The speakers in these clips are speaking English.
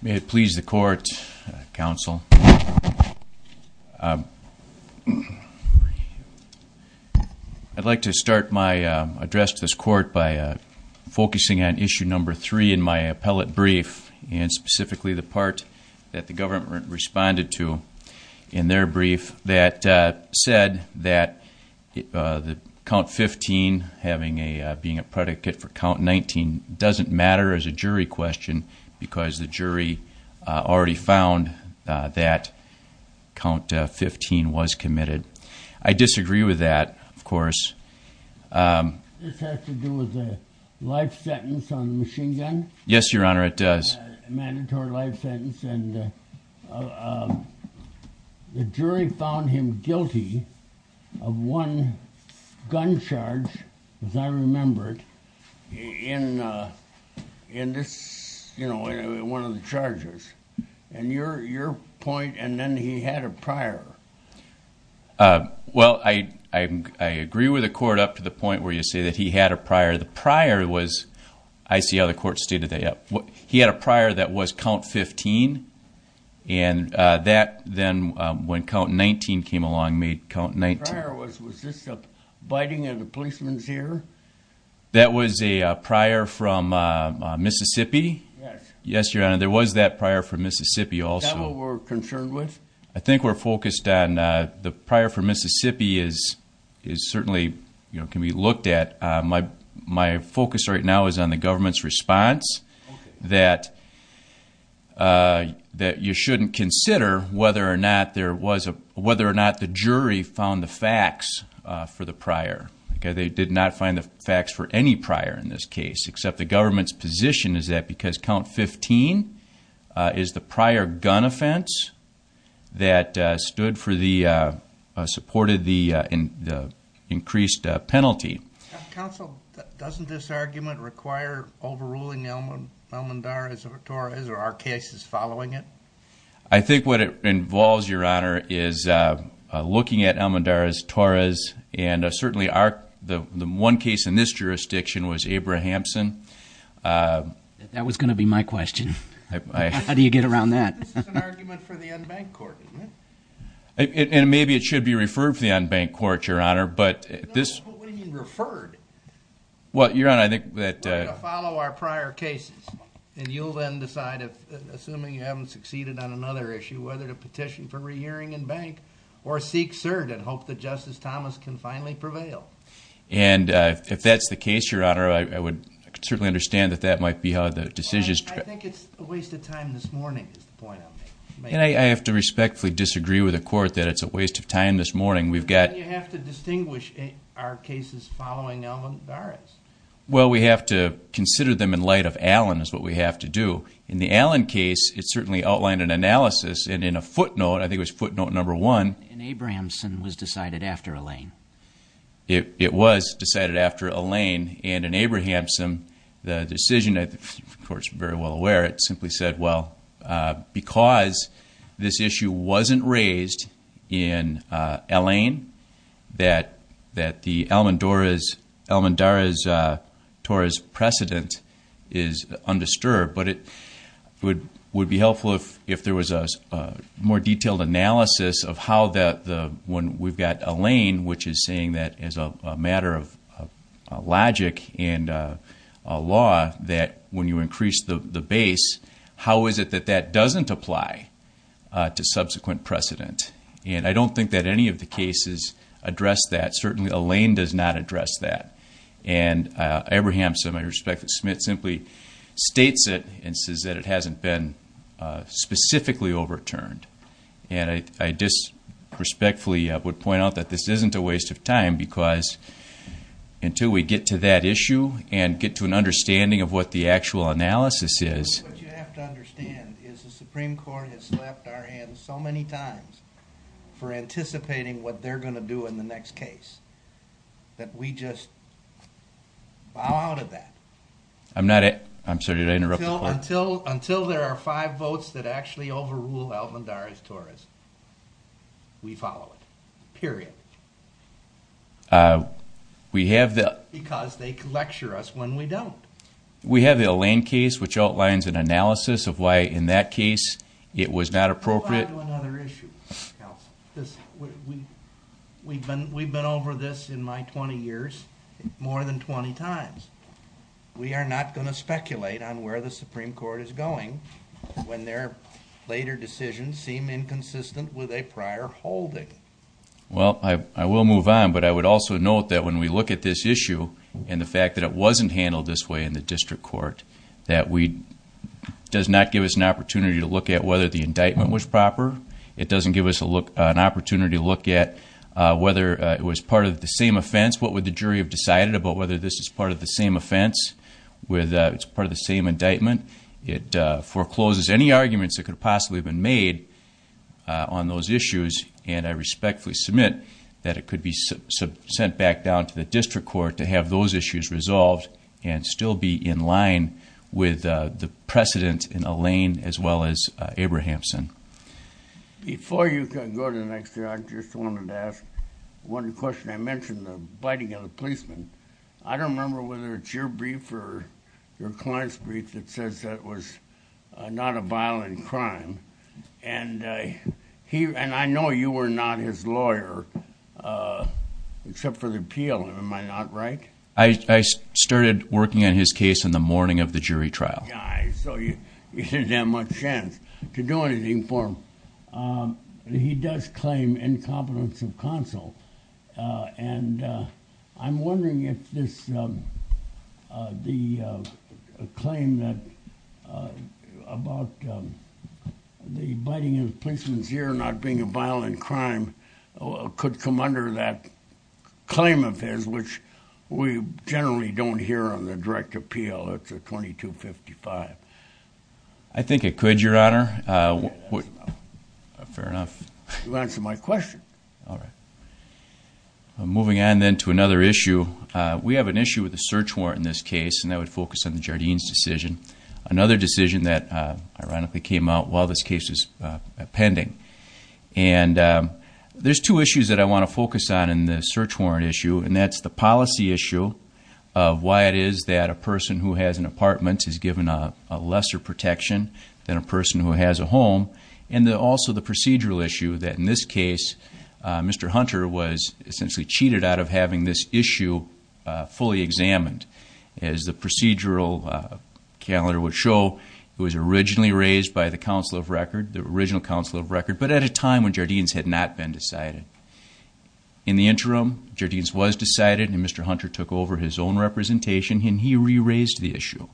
May it please the court, counsel. I'd like to start my address to this court by focusing on issue number three in my appellate brief, and specifically the part that the government responded to in their brief that said that the count 15 having a being a predicate for count 19 doesn't matter as a jury question because the jury already found that count 15 was committed. I agree with the court up to the point where you say that he had a prior. The prior was, I see how then when count 19 came along made count 19. Was this a biting of the policemen's ear? That was a prior from Mississippi. Yes. Yes your honor there was that prior from Mississippi also. Is that what we're concerned with? I think we're focused on the prior from Mississippi is is certainly you know can be a biased response that that you shouldn't consider whether or not there was a whether or not the jury found the facts for the prior. They did not find the facts for any prior in this case except the government's position is that because count 15 is the prior gun offense that stood for the supported increased penalty. Counsel, doesn't this argument require overruling Elmendaraz-Torres or our cases following it? I think what it involves your honor is looking at Elmendaraz-Torres and certainly our the one case in this jurisdiction was Abrahamson. That was going to be my question. How do you get around that? Maybe it should be referred for the unbanked court your honor but this what you're on I think that follow our prior cases and you'll then decide if assuming you haven't succeeded on another issue whether to petition for re-hearing in bank or seek cert and hope that Justice Thomas can finally prevail. And if that's the case your honor I would certainly understand that that might be how the decisions. I think it's a waste of time this morning is the point I'm making. I have to respectfully disagree with the court that it's a waste of time this morning we've got. You have to distinguish our cases following Elmendaraz-Torres. Well we have to consider them in light of Allen is what we have to do. In the Allen case it certainly outlined an analysis and in a footnote I think was footnote number one. In Abrahamson was decided after Allain. It was decided after Allain and in Abrahamson the decision of course very well aware it simply said well because this issue wasn't raised in Allain that that the Elmendaraz-Torres precedent is undisturbed but it would would be helpful if there was a more detailed analysis of how that the when we've got Allain which is saying that as a matter of logic and law that when you increase the base how is it that that doesn't apply to subsequent precedent. And I don't think that any of the cases address that certainly Allain does not address that. And Abrahamson I respect that Smith simply states it and says that it specifically overturned. And I just respectfully would point out that this isn't a waste of time because until we get to that issue and get to an understanding of what the actual analysis is. What you have to understand is the Supreme Court has slapped our hands so many times for anticipating what they're going to do in the next case. That we just bow out of that. I'm sorry did I interrupt? Until there are five votes that actually overrule Elmendaraz-Torres. We follow it. Period. We have that. Because they lecture us when we don't. We have the Allain case which outlines an analysis of why in that case it was not appropriate. We've been over this in my 20 years more than 20 times. We are not going to speculate on where the Supreme Court is going when their later decisions seem inconsistent with a prior holding. Well I will move on but I would also note that when we look at this issue and the fact that it wasn't handled this way in the district court. That does not give us an opportunity to look at whether the indictment was proper. It doesn't give us an opportunity to look at whether it was part of the same offense. What would the jury have decided about whether this is part of the same offense. It's part of the same indictment. It forecloses any arguments that could have possibly been made on those issues and I respectfully submit that it could be sent back down to the district court to have those issues resolved. And still be in line with the precedent in Allain as well as Abrahamson. Before you go to the next thing I just wanted to ask one question. I mentioned the biting of the policeman. I don't remember whether it's your brief or your client's brief that says that it was not a violent crime. And I know you were not his lawyer except for the appeal. Am I not right? I started working on his case in the morning of the jury trial. So you didn't have much chance to do anything for him. He does claim incompetence of counsel and I'm wondering if the claim about the biting of a policeman's ear not being a violent crime could come under that claim of his which we generally don't hear on the direct appeal. It's a 2255. I think it could your honor. Fair enough. You answered my question. Moving on then to another issue. We have an issue with the search warrant in this case and that would focus on the Jardines decision. Another decision that ironically came out while this case was pending. And there's two issues that I want to focus on in the search warrant issue and that's the policy issue of why it is that a person who has an apartment is given a lesser protection than a person who has a home. And also the procedural issue that in this case Mr. Hunter was essentially cheated out of having this issue fully examined. As the procedural calendar would show, it was originally raised by the council of record, the original council of record, but at a time when Jardines had not been decided. In the interim, Jardines was decided and Mr. Hunter took over his own representation and he re-raised the issue.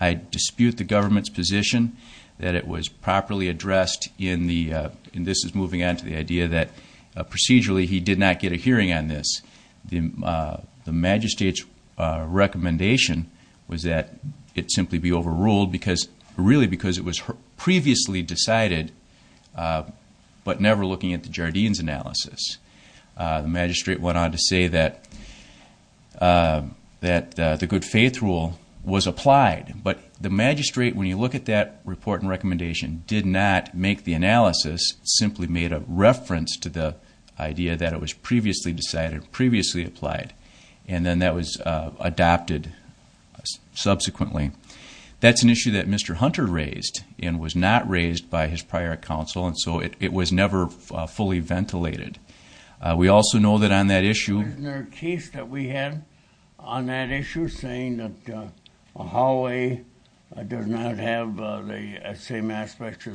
I dispute the government's position that it was properly addressed in the, and this is moving on to the idea that procedurally he did not get a hearing on this. The magistrate's recommendation was that it simply be overruled because, really because it was previously decided but never looking at the Jardines analysis. The magistrate went on to say that the good faith rule was applied, but the magistrate, when you look at that report and recommendation, did not make the analysis, simply made a reference to the idea that it was previously decided, previously applied, and then that was adopted subsequently. That's an issue that Mr. Hunter raised and was not raised by his prior council and so it was never fully ventilated. We also know that on that issue... Isn't there a case that we had on that issue saying that a hallway does not have the same aspects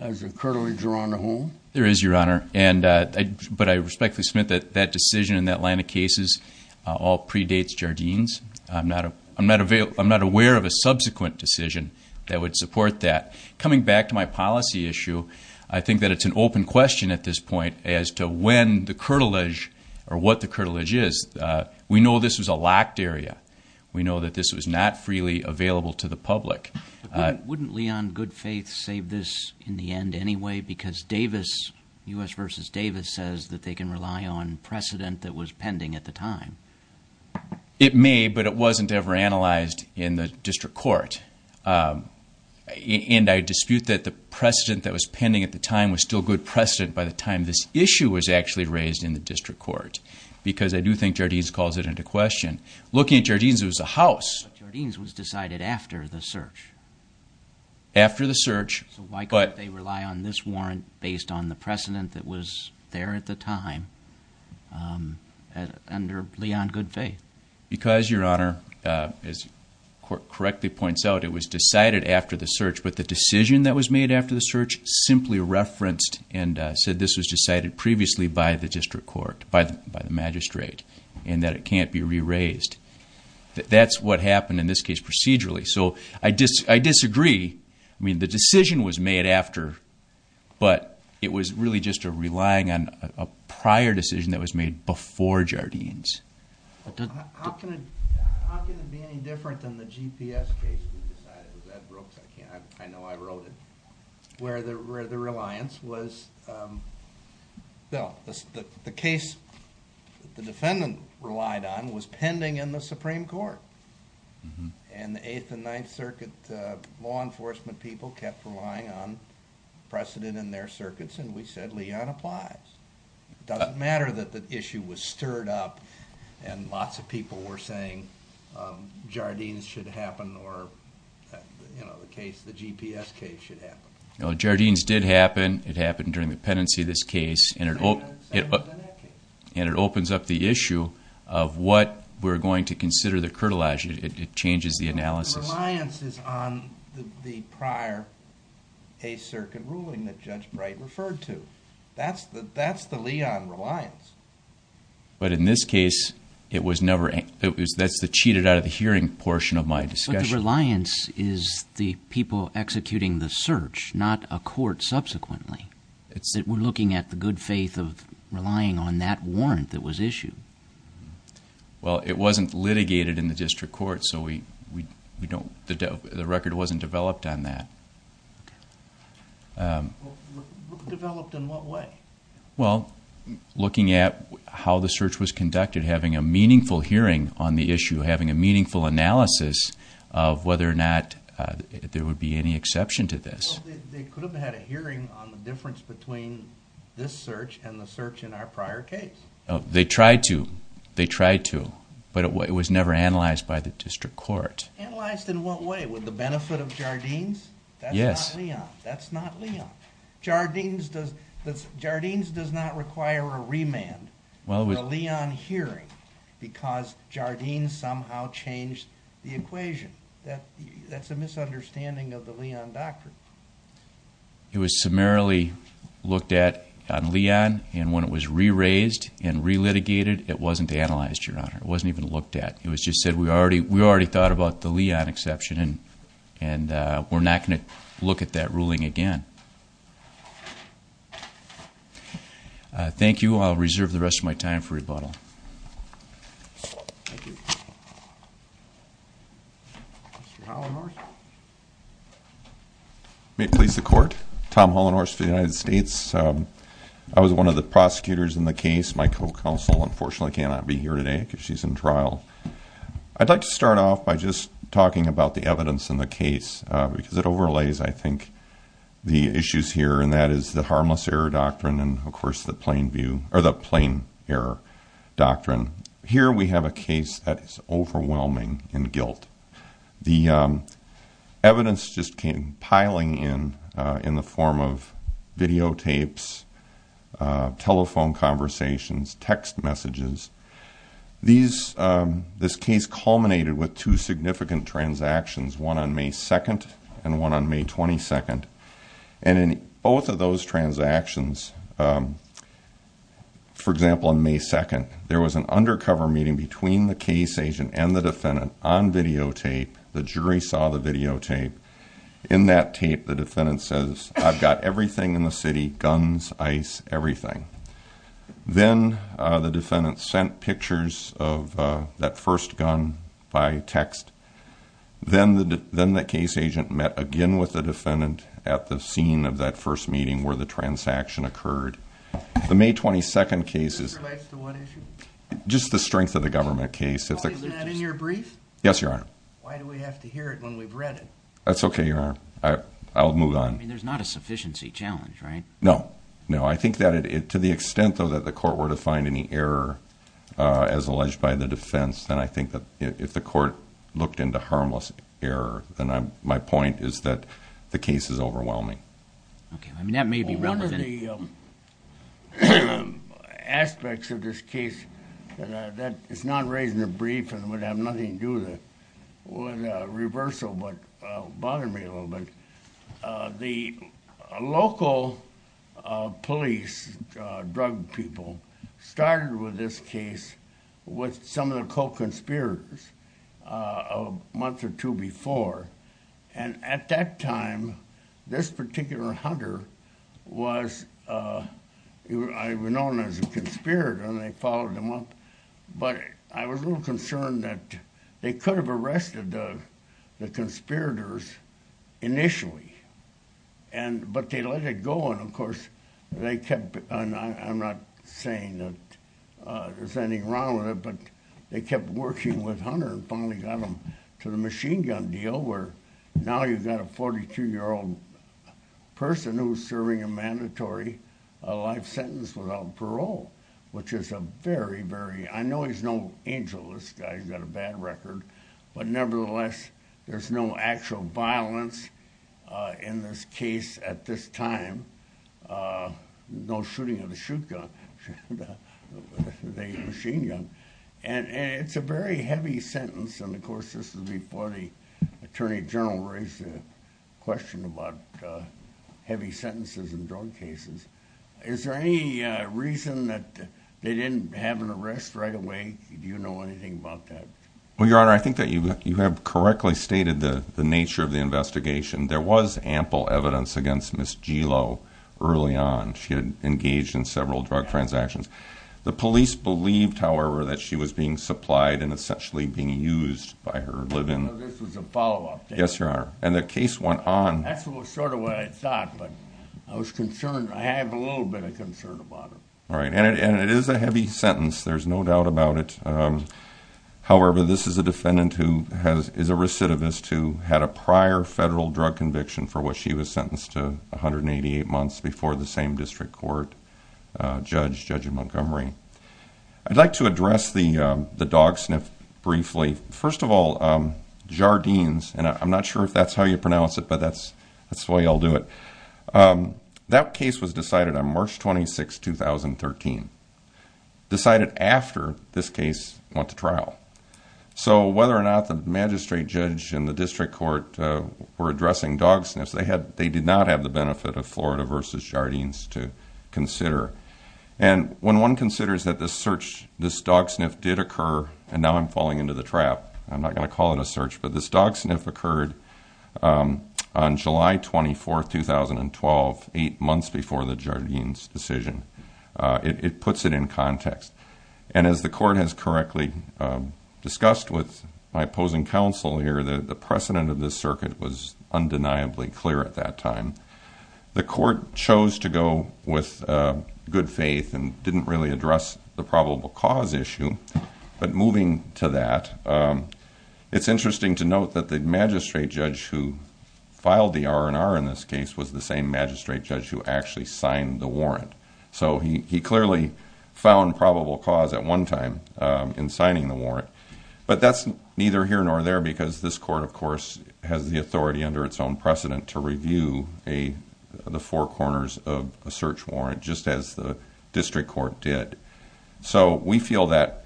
as a curtilage around a home? There is, Your Honor, but I respectfully submit that that decision and that line of cases all predates Jardines. I'm not aware of a subsequent decision that would support that. Coming back to my policy issue, I think that it's an open question at this point as to when the curtilage or what the curtilage is. We know this was a locked area. We know that this was not freely available to the public. Wouldn't Leon Goodfaith save this in the end anyway because Davis, U.S. v. Davis, says that they can rely on precedent that was pending at the time? It may, but it wasn't ever analyzed in the district court. And I dispute that the precedent that was pending at the time was still good precedent by the time this issue was actually raised in the district court because I do think Jardines calls it into question. Looking at Jardines, it was a house. But Jardines was decided after the search? After the search, but... Because, Your Honor, as the court correctly points out, it was decided after the search, but the decision that was made after the search simply referenced and said this was decided previously by the district court, by the magistrate, and that it can't be re-raised. That's what happened in this case procedurally. I disagree. I mean, the decision was made after, but it was really just a relying on a prior decision that was made before Jardines. How can it be any different than the GPS case we decided? It was Ed Brooks. I know I wrote it. Where the reliance was, well, the case the defendant relied on was pending in the Supreme Court. And the Eighth and Ninth Circuit law enforcement people kept relying on precedent in their circuits, and we said Leon applies. It doesn't matter that the issue was stirred up and lots of people were saying Jardines should happen or, you know, the case, the GPS case should happen. No, Jardines did happen. It happened during the pendency of this case. And it opens up the issue of what we're going to consider the curtilage, it changes the analysis. The reliance is on the prior Eighth Circuit ruling that Judge Bright referred to. That's the Leon reliance. But in this case, it was never, that's the cheated-out-of-the-hearing portion of my discussion. But the reliance is the people executing the search, not a court subsequently. We're looking at the good faith of relying on that warrant that was issued. Well, it wasn't litigated in the district court, so we don't, the record wasn't developed on that. Developed in what way? Well, looking at how the search was conducted, having a meaningful hearing on the issue, having a meaningful analysis of whether or not there would be any exception to this. Well, they could have had a hearing on the difference between this search and the search in our prior case. They tried to, they tried to, but it was never analyzed by the district court. Analyzed in what way? With the benefit of Jardines? Yes. That's not Leon, that's not Leon. Jardines does, Jardines does not require a remand for a Leon hearing because Jardines somehow changed the equation. That's a misunderstanding of the Leon doctrine. It was summarily looked at on Leon, and when it was re-raised and re-litigated, it wasn't analyzed, Your Honor. It wasn't even looked at. It was just said we already, we already thought about the Leon exception and we're not going to look at that ruling again. Thank you. I'll reserve the rest of my time for rebuttal. Thank you. Mr. Hollenhorst? May it please the Court, Tom Hollenhorst of the United States. I was one of the prosecutors in the case. My co-counsel, unfortunately, cannot be here today because she's in trial. I'd like to start off by just talking about the evidence in the case because it overlays, I think, the issues here, and that is the harmless error doctrine and, of course, the plain view, or the plain error doctrine. Here we have a case that is overwhelming in guilt. The evidence just came piling in in the form of videotapes, telephone conversations, text messages. This case culminated with two significant transactions, one on May 2nd and one on May 22nd, and in both of those transactions, for example, on May 2nd, there was an undercover meeting between the case agent and the defendant on videotape. The jury saw the videotape. In that tape, the defendant says, I've got everything in the city, guns, ice, everything. Then the defendant sent pictures of that first gun by text. Then the case agent met again with the defendant at the scene of that first meeting where the transaction occurred. The May 22nd case is just the strength of the government case. Is that in your brief? Yes, Your Honor. Why do we have to hear it when we've read it? That's okay, Your Honor. I'll move on. I mean, there's not a sufficiency challenge, right? No. No. I think that to the extent, though, that the court were to find any error as alleged by the defense, then I think that if the court looked into harmless error, then my point is that the case is overwhelming. Okay. I mean, that may be relevant. One of the aspects of this case that is not raised in the brief and would have nothing to do with reversal, but it bothered me a little bit, the local police, drug people, started with this case with some of the co-conspirators a month or two before. At that time, this particular hunter was known as a conspirator, and they followed him up. But I was a little concerned that they could have arrested the conspirators initially, but they let it go. Of course, they kept—and I'm not saying that there's anything wrong with it— but they kept working with Hunter and finally got him to the machine gun deal, where now you've got a 42-year-old person who's serving a mandatory life sentence without parole, which is a very, very—I know he's no angel. This guy's got a bad record. But nevertheless, there's no actual violence in this case at this time. No shooting of the shoot gun, the machine gun. And it's a very heavy sentence. And, of course, this is before the attorney general raised the question about heavy sentences in drug cases. Is there any reason that they didn't have an arrest right away? Do you know anything about that? Well, Your Honor, I think that you have correctly stated the nature of the investigation. There was ample evidence against Ms. Gelo early on. She had engaged in several drug transactions. The police believed, however, that she was being supplied and essentially being used by her live-in— I know this was a follow-up case. Yes, Your Honor. And the case went on. That's sort of what I thought, but I was concerned. I have a little bit of concern about it. All right. And it is a heavy sentence. There's no doubt about it. However, this is a defendant who is a recidivist who had a prior federal drug conviction for which she was sentenced to 188 months before the same district court judge, Judge Montgomery. I'd like to address the dog sniff briefly. First of all, Jardines—and I'm not sure if that's how you pronounce it, but that's the way I'll do it— that case was decided on March 26, 2013. Decided after this case went to trial. So whether or not the magistrate judge and the district court were addressing dog sniffs, they did not have the benefit of Florida v. Jardines to consider. And when one considers that this search, this dog sniff did occur— and now I'm falling into the trap. I'm not going to call it a search. But this dog sniff occurred on July 24, 2012, eight months before the Jardines decision. It puts it in context. And as the court has correctly discussed with my opposing counsel here, the precedent of this circuit was undeniably clear at that time. The court chose to go with good faith and didn't really address the probable cause issue. But moving to that, it's interesting to note that the magistrate judge who filed the R&R in this case was the same magistrate judge who actually signed the warrant. So he clearly found probable cause at one time in signing the warrant. But that's neither here nor there because this court, of course, has the authority under its own precedent to review the four corners of a search warrant, just as the district court did. So we feel that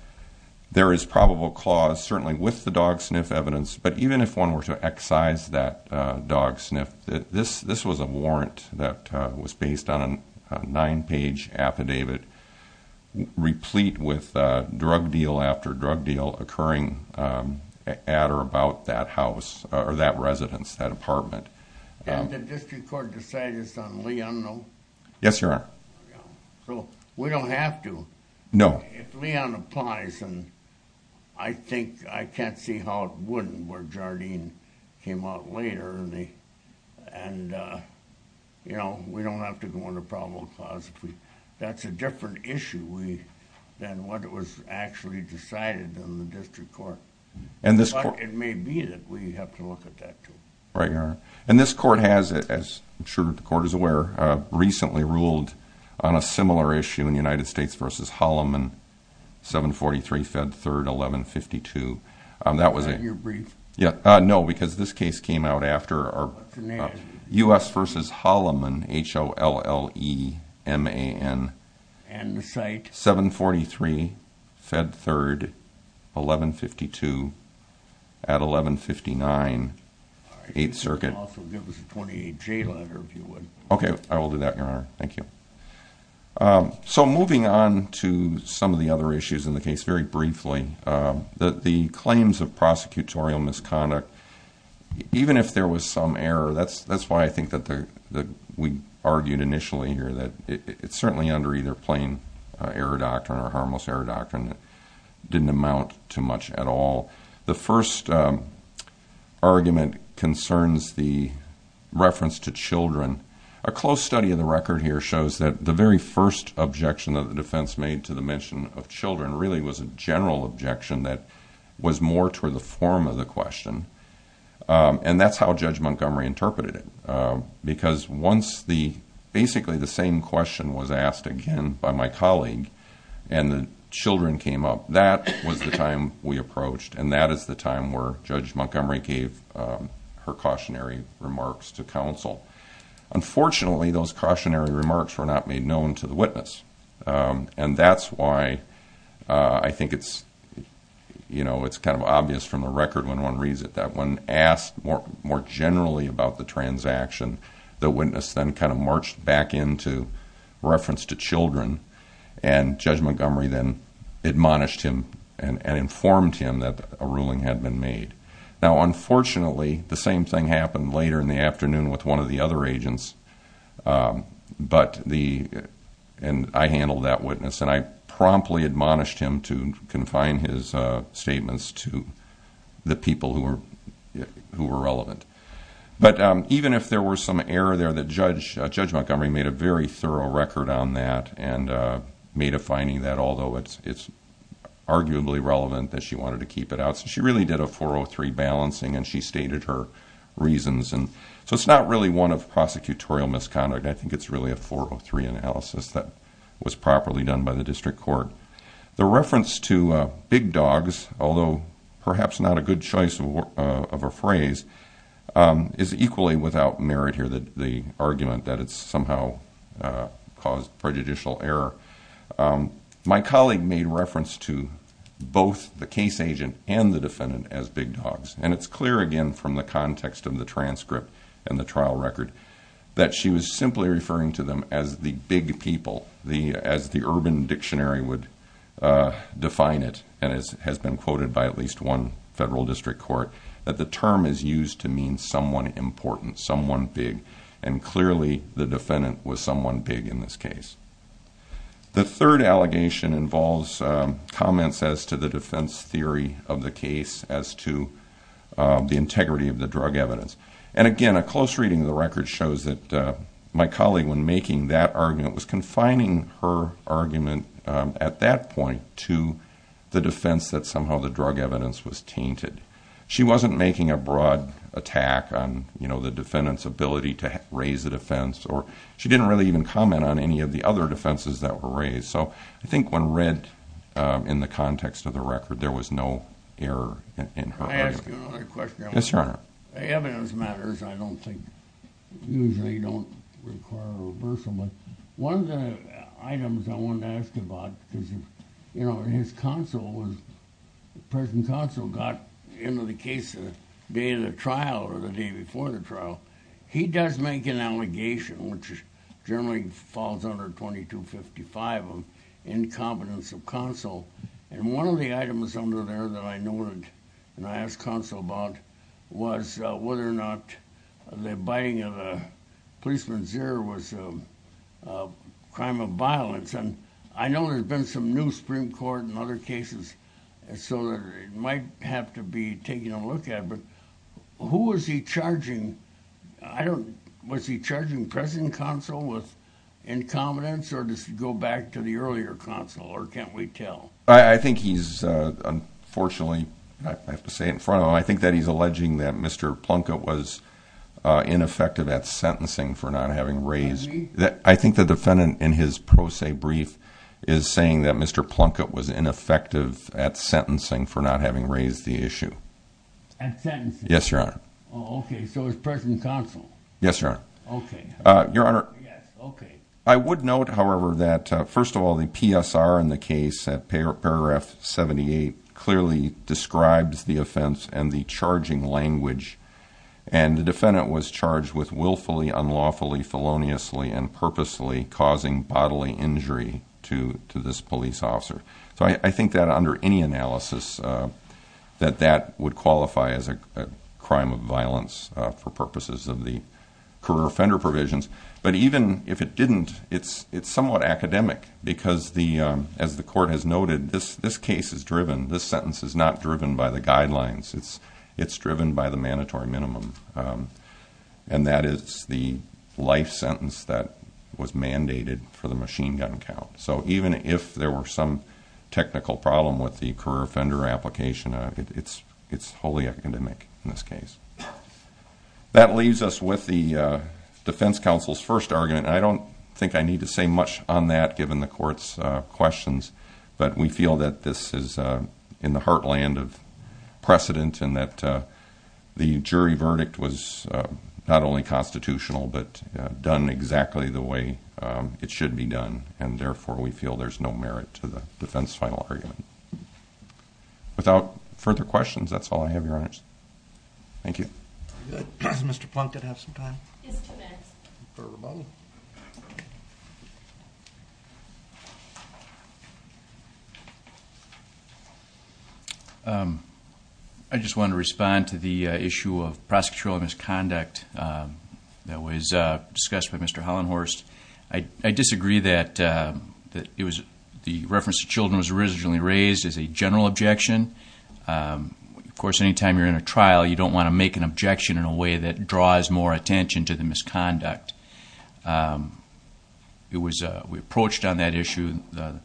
there is probable cause, certainly with the dog sniff evidence. But even if one were to excise that dog sniff, this was a warrant that was based on a nine-page affidavit replete with drug deal after drug deal occurring at or about that house, or that residence, that apartment. Yes, Your Honor. No. That's where Jardine came out later. We don't have to go into probable cause. That's a different issue than what was actually decided in the district court. But it may be that we have to look at that too. Right, Your Honor. And this court has, as I'm sure the court is aware, recently ruled on a similar issue in United States v. Holloman, 743 Fed 3rd, 1152. Are you brief? No, because this case came out after. What's your name? U.S. v. Holloman, H-O-L-L-E-M-A-N. And the site? 743 Fed 3rd, 1152 at 1159 8th Circuit. All right, you can also give us a 28J letter if you would. Okay, I will do that, Your Honor. Thank you. So moving on to some of the other issues in the case very briefly, the claims of prosecutorial misconduct, even if there was some error, that's why I think that we argued initially here that it's certainly under either plain error doctrine or harmless error doctrine that didn't amount to much at all. The first argument concerns the reference to children. A close study of the record here shows that the very first objection that the defense made to the mention of children really was a general objection that was more toward the form of the question, and that's how Judge Montgomery interpreted it. Because once basically the same question was asked again by my colleague and the children came up, that was the time we approached, and that is the time where Judge Montgomery gave her cautionary remarks to counsel. And that's why I think it's kind of obvious from the record when one reads it that when asked more generally about the transaction, the witness then kind of marched back into reference to children, and Judge Montgomery then admonished him and informed him that a ruling had been made. Now, unfortunately, the same thing happened later in the afternoon with one of the other agents, and I handled that witness, and I promptly admonished him to confine his statements to the people who were relevant. But even if there were some error there, Judge Montgomery made a very thorough record on that and made a finding that although it's arguably relevant that she wanted to keep it out. So she really did a 403 balancing, and she stated her reasons. So it's not really one of prosecutorial misconduct. I think it's really a 403 analysis that was properly done by the district court. The reference to big dogs, although perhaps not a good choice of a phrase, is equally without merit here, the argument that it's somehow caused prejudicial error. My colleague made reference to both the case agent and the defendant as big dogs, and it's clear again from the context of the transcript and the trial record that she was simply referring to them as the big people, as the urban dictionary would define it, and it has been quoted by at least one federal district court, that the term is used to mean someone important, someone big, and clearly the defendant was someone big in this case. The third allegation involves comments as to the defense theory of the case as to the integrity of the drug evidence. And again, a close reading of the record shows that my colleague, when making that argument, was confining her argument at that point to the defense that somehow the drug evidence was tainted. She wasn't making a broad attack on the defendant's ability to raise the defense, or she didn't really even comment on any of the other defenses that were raised. So I think when read in the context of the record, there was no error in her argument. Can I ask you another question? Yes, Your Honor. Evidence matters, I don't think, usually don't require a reversal, but one of the items I wanted to ask you about is, you know, his counsel was, the present counsel got into the case the day of the trial or the day before the trial. He does make an allegation, which generally falls under 2255 of incompetence of counsel. And one of the items under there that I noted and I asked counsel about was whether or not the biting of a policeman's ear was a crime of violence. And I know there's been some new Supreme Court in other cases, so it might have to be taken a look at, but who was he charging? I don't, was he charging present counsel with incompetence, or does he go back to the earlier counsel, or can't we tell? I think he's, unfortunately, I have to say it in front of him, I think that he's alleging that Mr. Plunkett was ineffective at sentencing for not having raised, I think the defendant in his pro se brief is saying that Mr. Plunkett was ineffective at sentencing for not having raised the issue. At sentencing? Yes, Your Honor. Oh, okay, so it was present counsel. Yes, Your Honor. Okay. Your Honor. Yes, okay. I would note, however, that, first of all, the PSR in the case at paragraph 78 clearly describes the offense and the charging language, and the defendant was charged with willfully, unlawfully, feloniously, and purposely causing bodily injury to this police officer. So I think that under any analysis that that would qualify as a crime of violence for purposes of the career offender provisions. But even if it didn't, it's somewhat academic because, as the court has noted, this case is driven, this sentence is not driven by the guidelines, it's driven by the mandatory minimum, and that is the life sentence that was mandated for the machine gun count. So even if there were some technical problem with the career offender application, it's wholly academic in this case. That leaves us with the defense counsel's first argument, and I don't think I need to say much on that given the court's questions, but we feel that this is in the heartland of precedent and that the jury verdict was not only constitutional but done exactly the way it should be done, and therefore we feel there's no merit to the defense final argument. Without further questions, that's all I have, Your Honors. Thank you. Does Mr. Plunkett have some time? He has two minutes. Fair rebuttal. I just want to respond to the issue of prosecutorial misconduct that was discussed with Mr. Hollenhorst. I disagree that the reference to children was originally raised as a general objection. Of course, any time you're in a trial, you don't want to make an objection in a way that draws more attention to the misconduct. We approached on that issue, the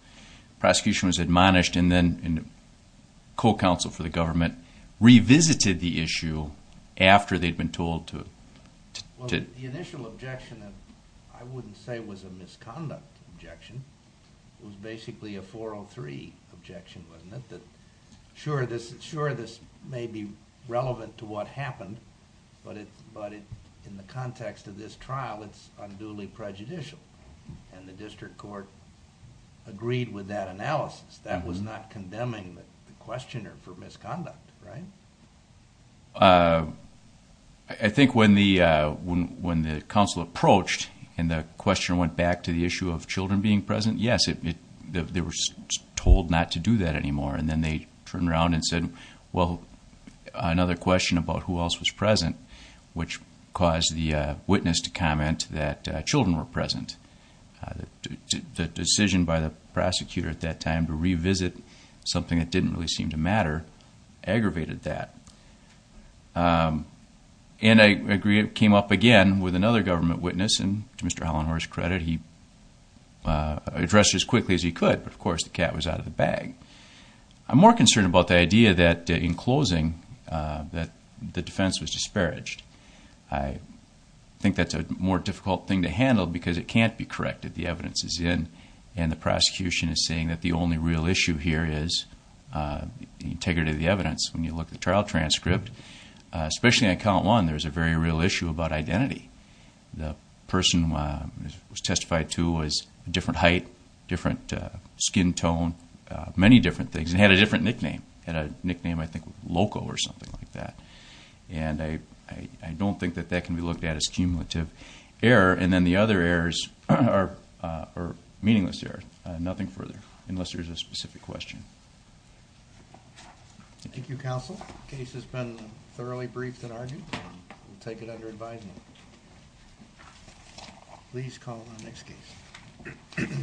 prosecution was admonished, and then co-counsel for the government revisited the issue after they'd been told to. The initial objection, I wouldn't say it was a misconduct objection. It was basically a 403 objection, wasn't it? Sure, this may be relevant to what happened, but in the context of this trial, it's unduly prejudicial, and the district court agreed with that analysis. That was not condemning the questioner for misconduct, right? I think when the counsel approached, and the questioner went back to the issue of children being present, yes, they were told not to do that anymore, and then they turned around and said, well, another question about who else was present, which caused the witness to comment that children were present. The decision by the prosecutor at that time to revisit something that didn't really seem to matter aggravated that. And I agree, it came up again with another government witness, and to Mr. Hollenhorst's credit, he addressed it as quickly as he could, but of course the cat was out of the bag. I'm more concerned about the idea that in closing, that the defense was disparaged. I think that's a more difficult thing to handle because it can't be corrected. And the prosecution is saying that the only real issue here is the integrity of the evidence. When you look at the trial transcript, especially on count one, there's a very real issue about identity. The person who was testified to was a different height, different skin tone, many different things, and had a different nickname. He had a nickname, I think, Loco or something like that. And I don't think that that can be looked at as cumulative error. And then the other errors are meaningless errors, nothing further, unless there's a specific question. Thank you, counsel. The case has been thoroughly briefed and argued. We'll take it under advisement. Please call on the next case.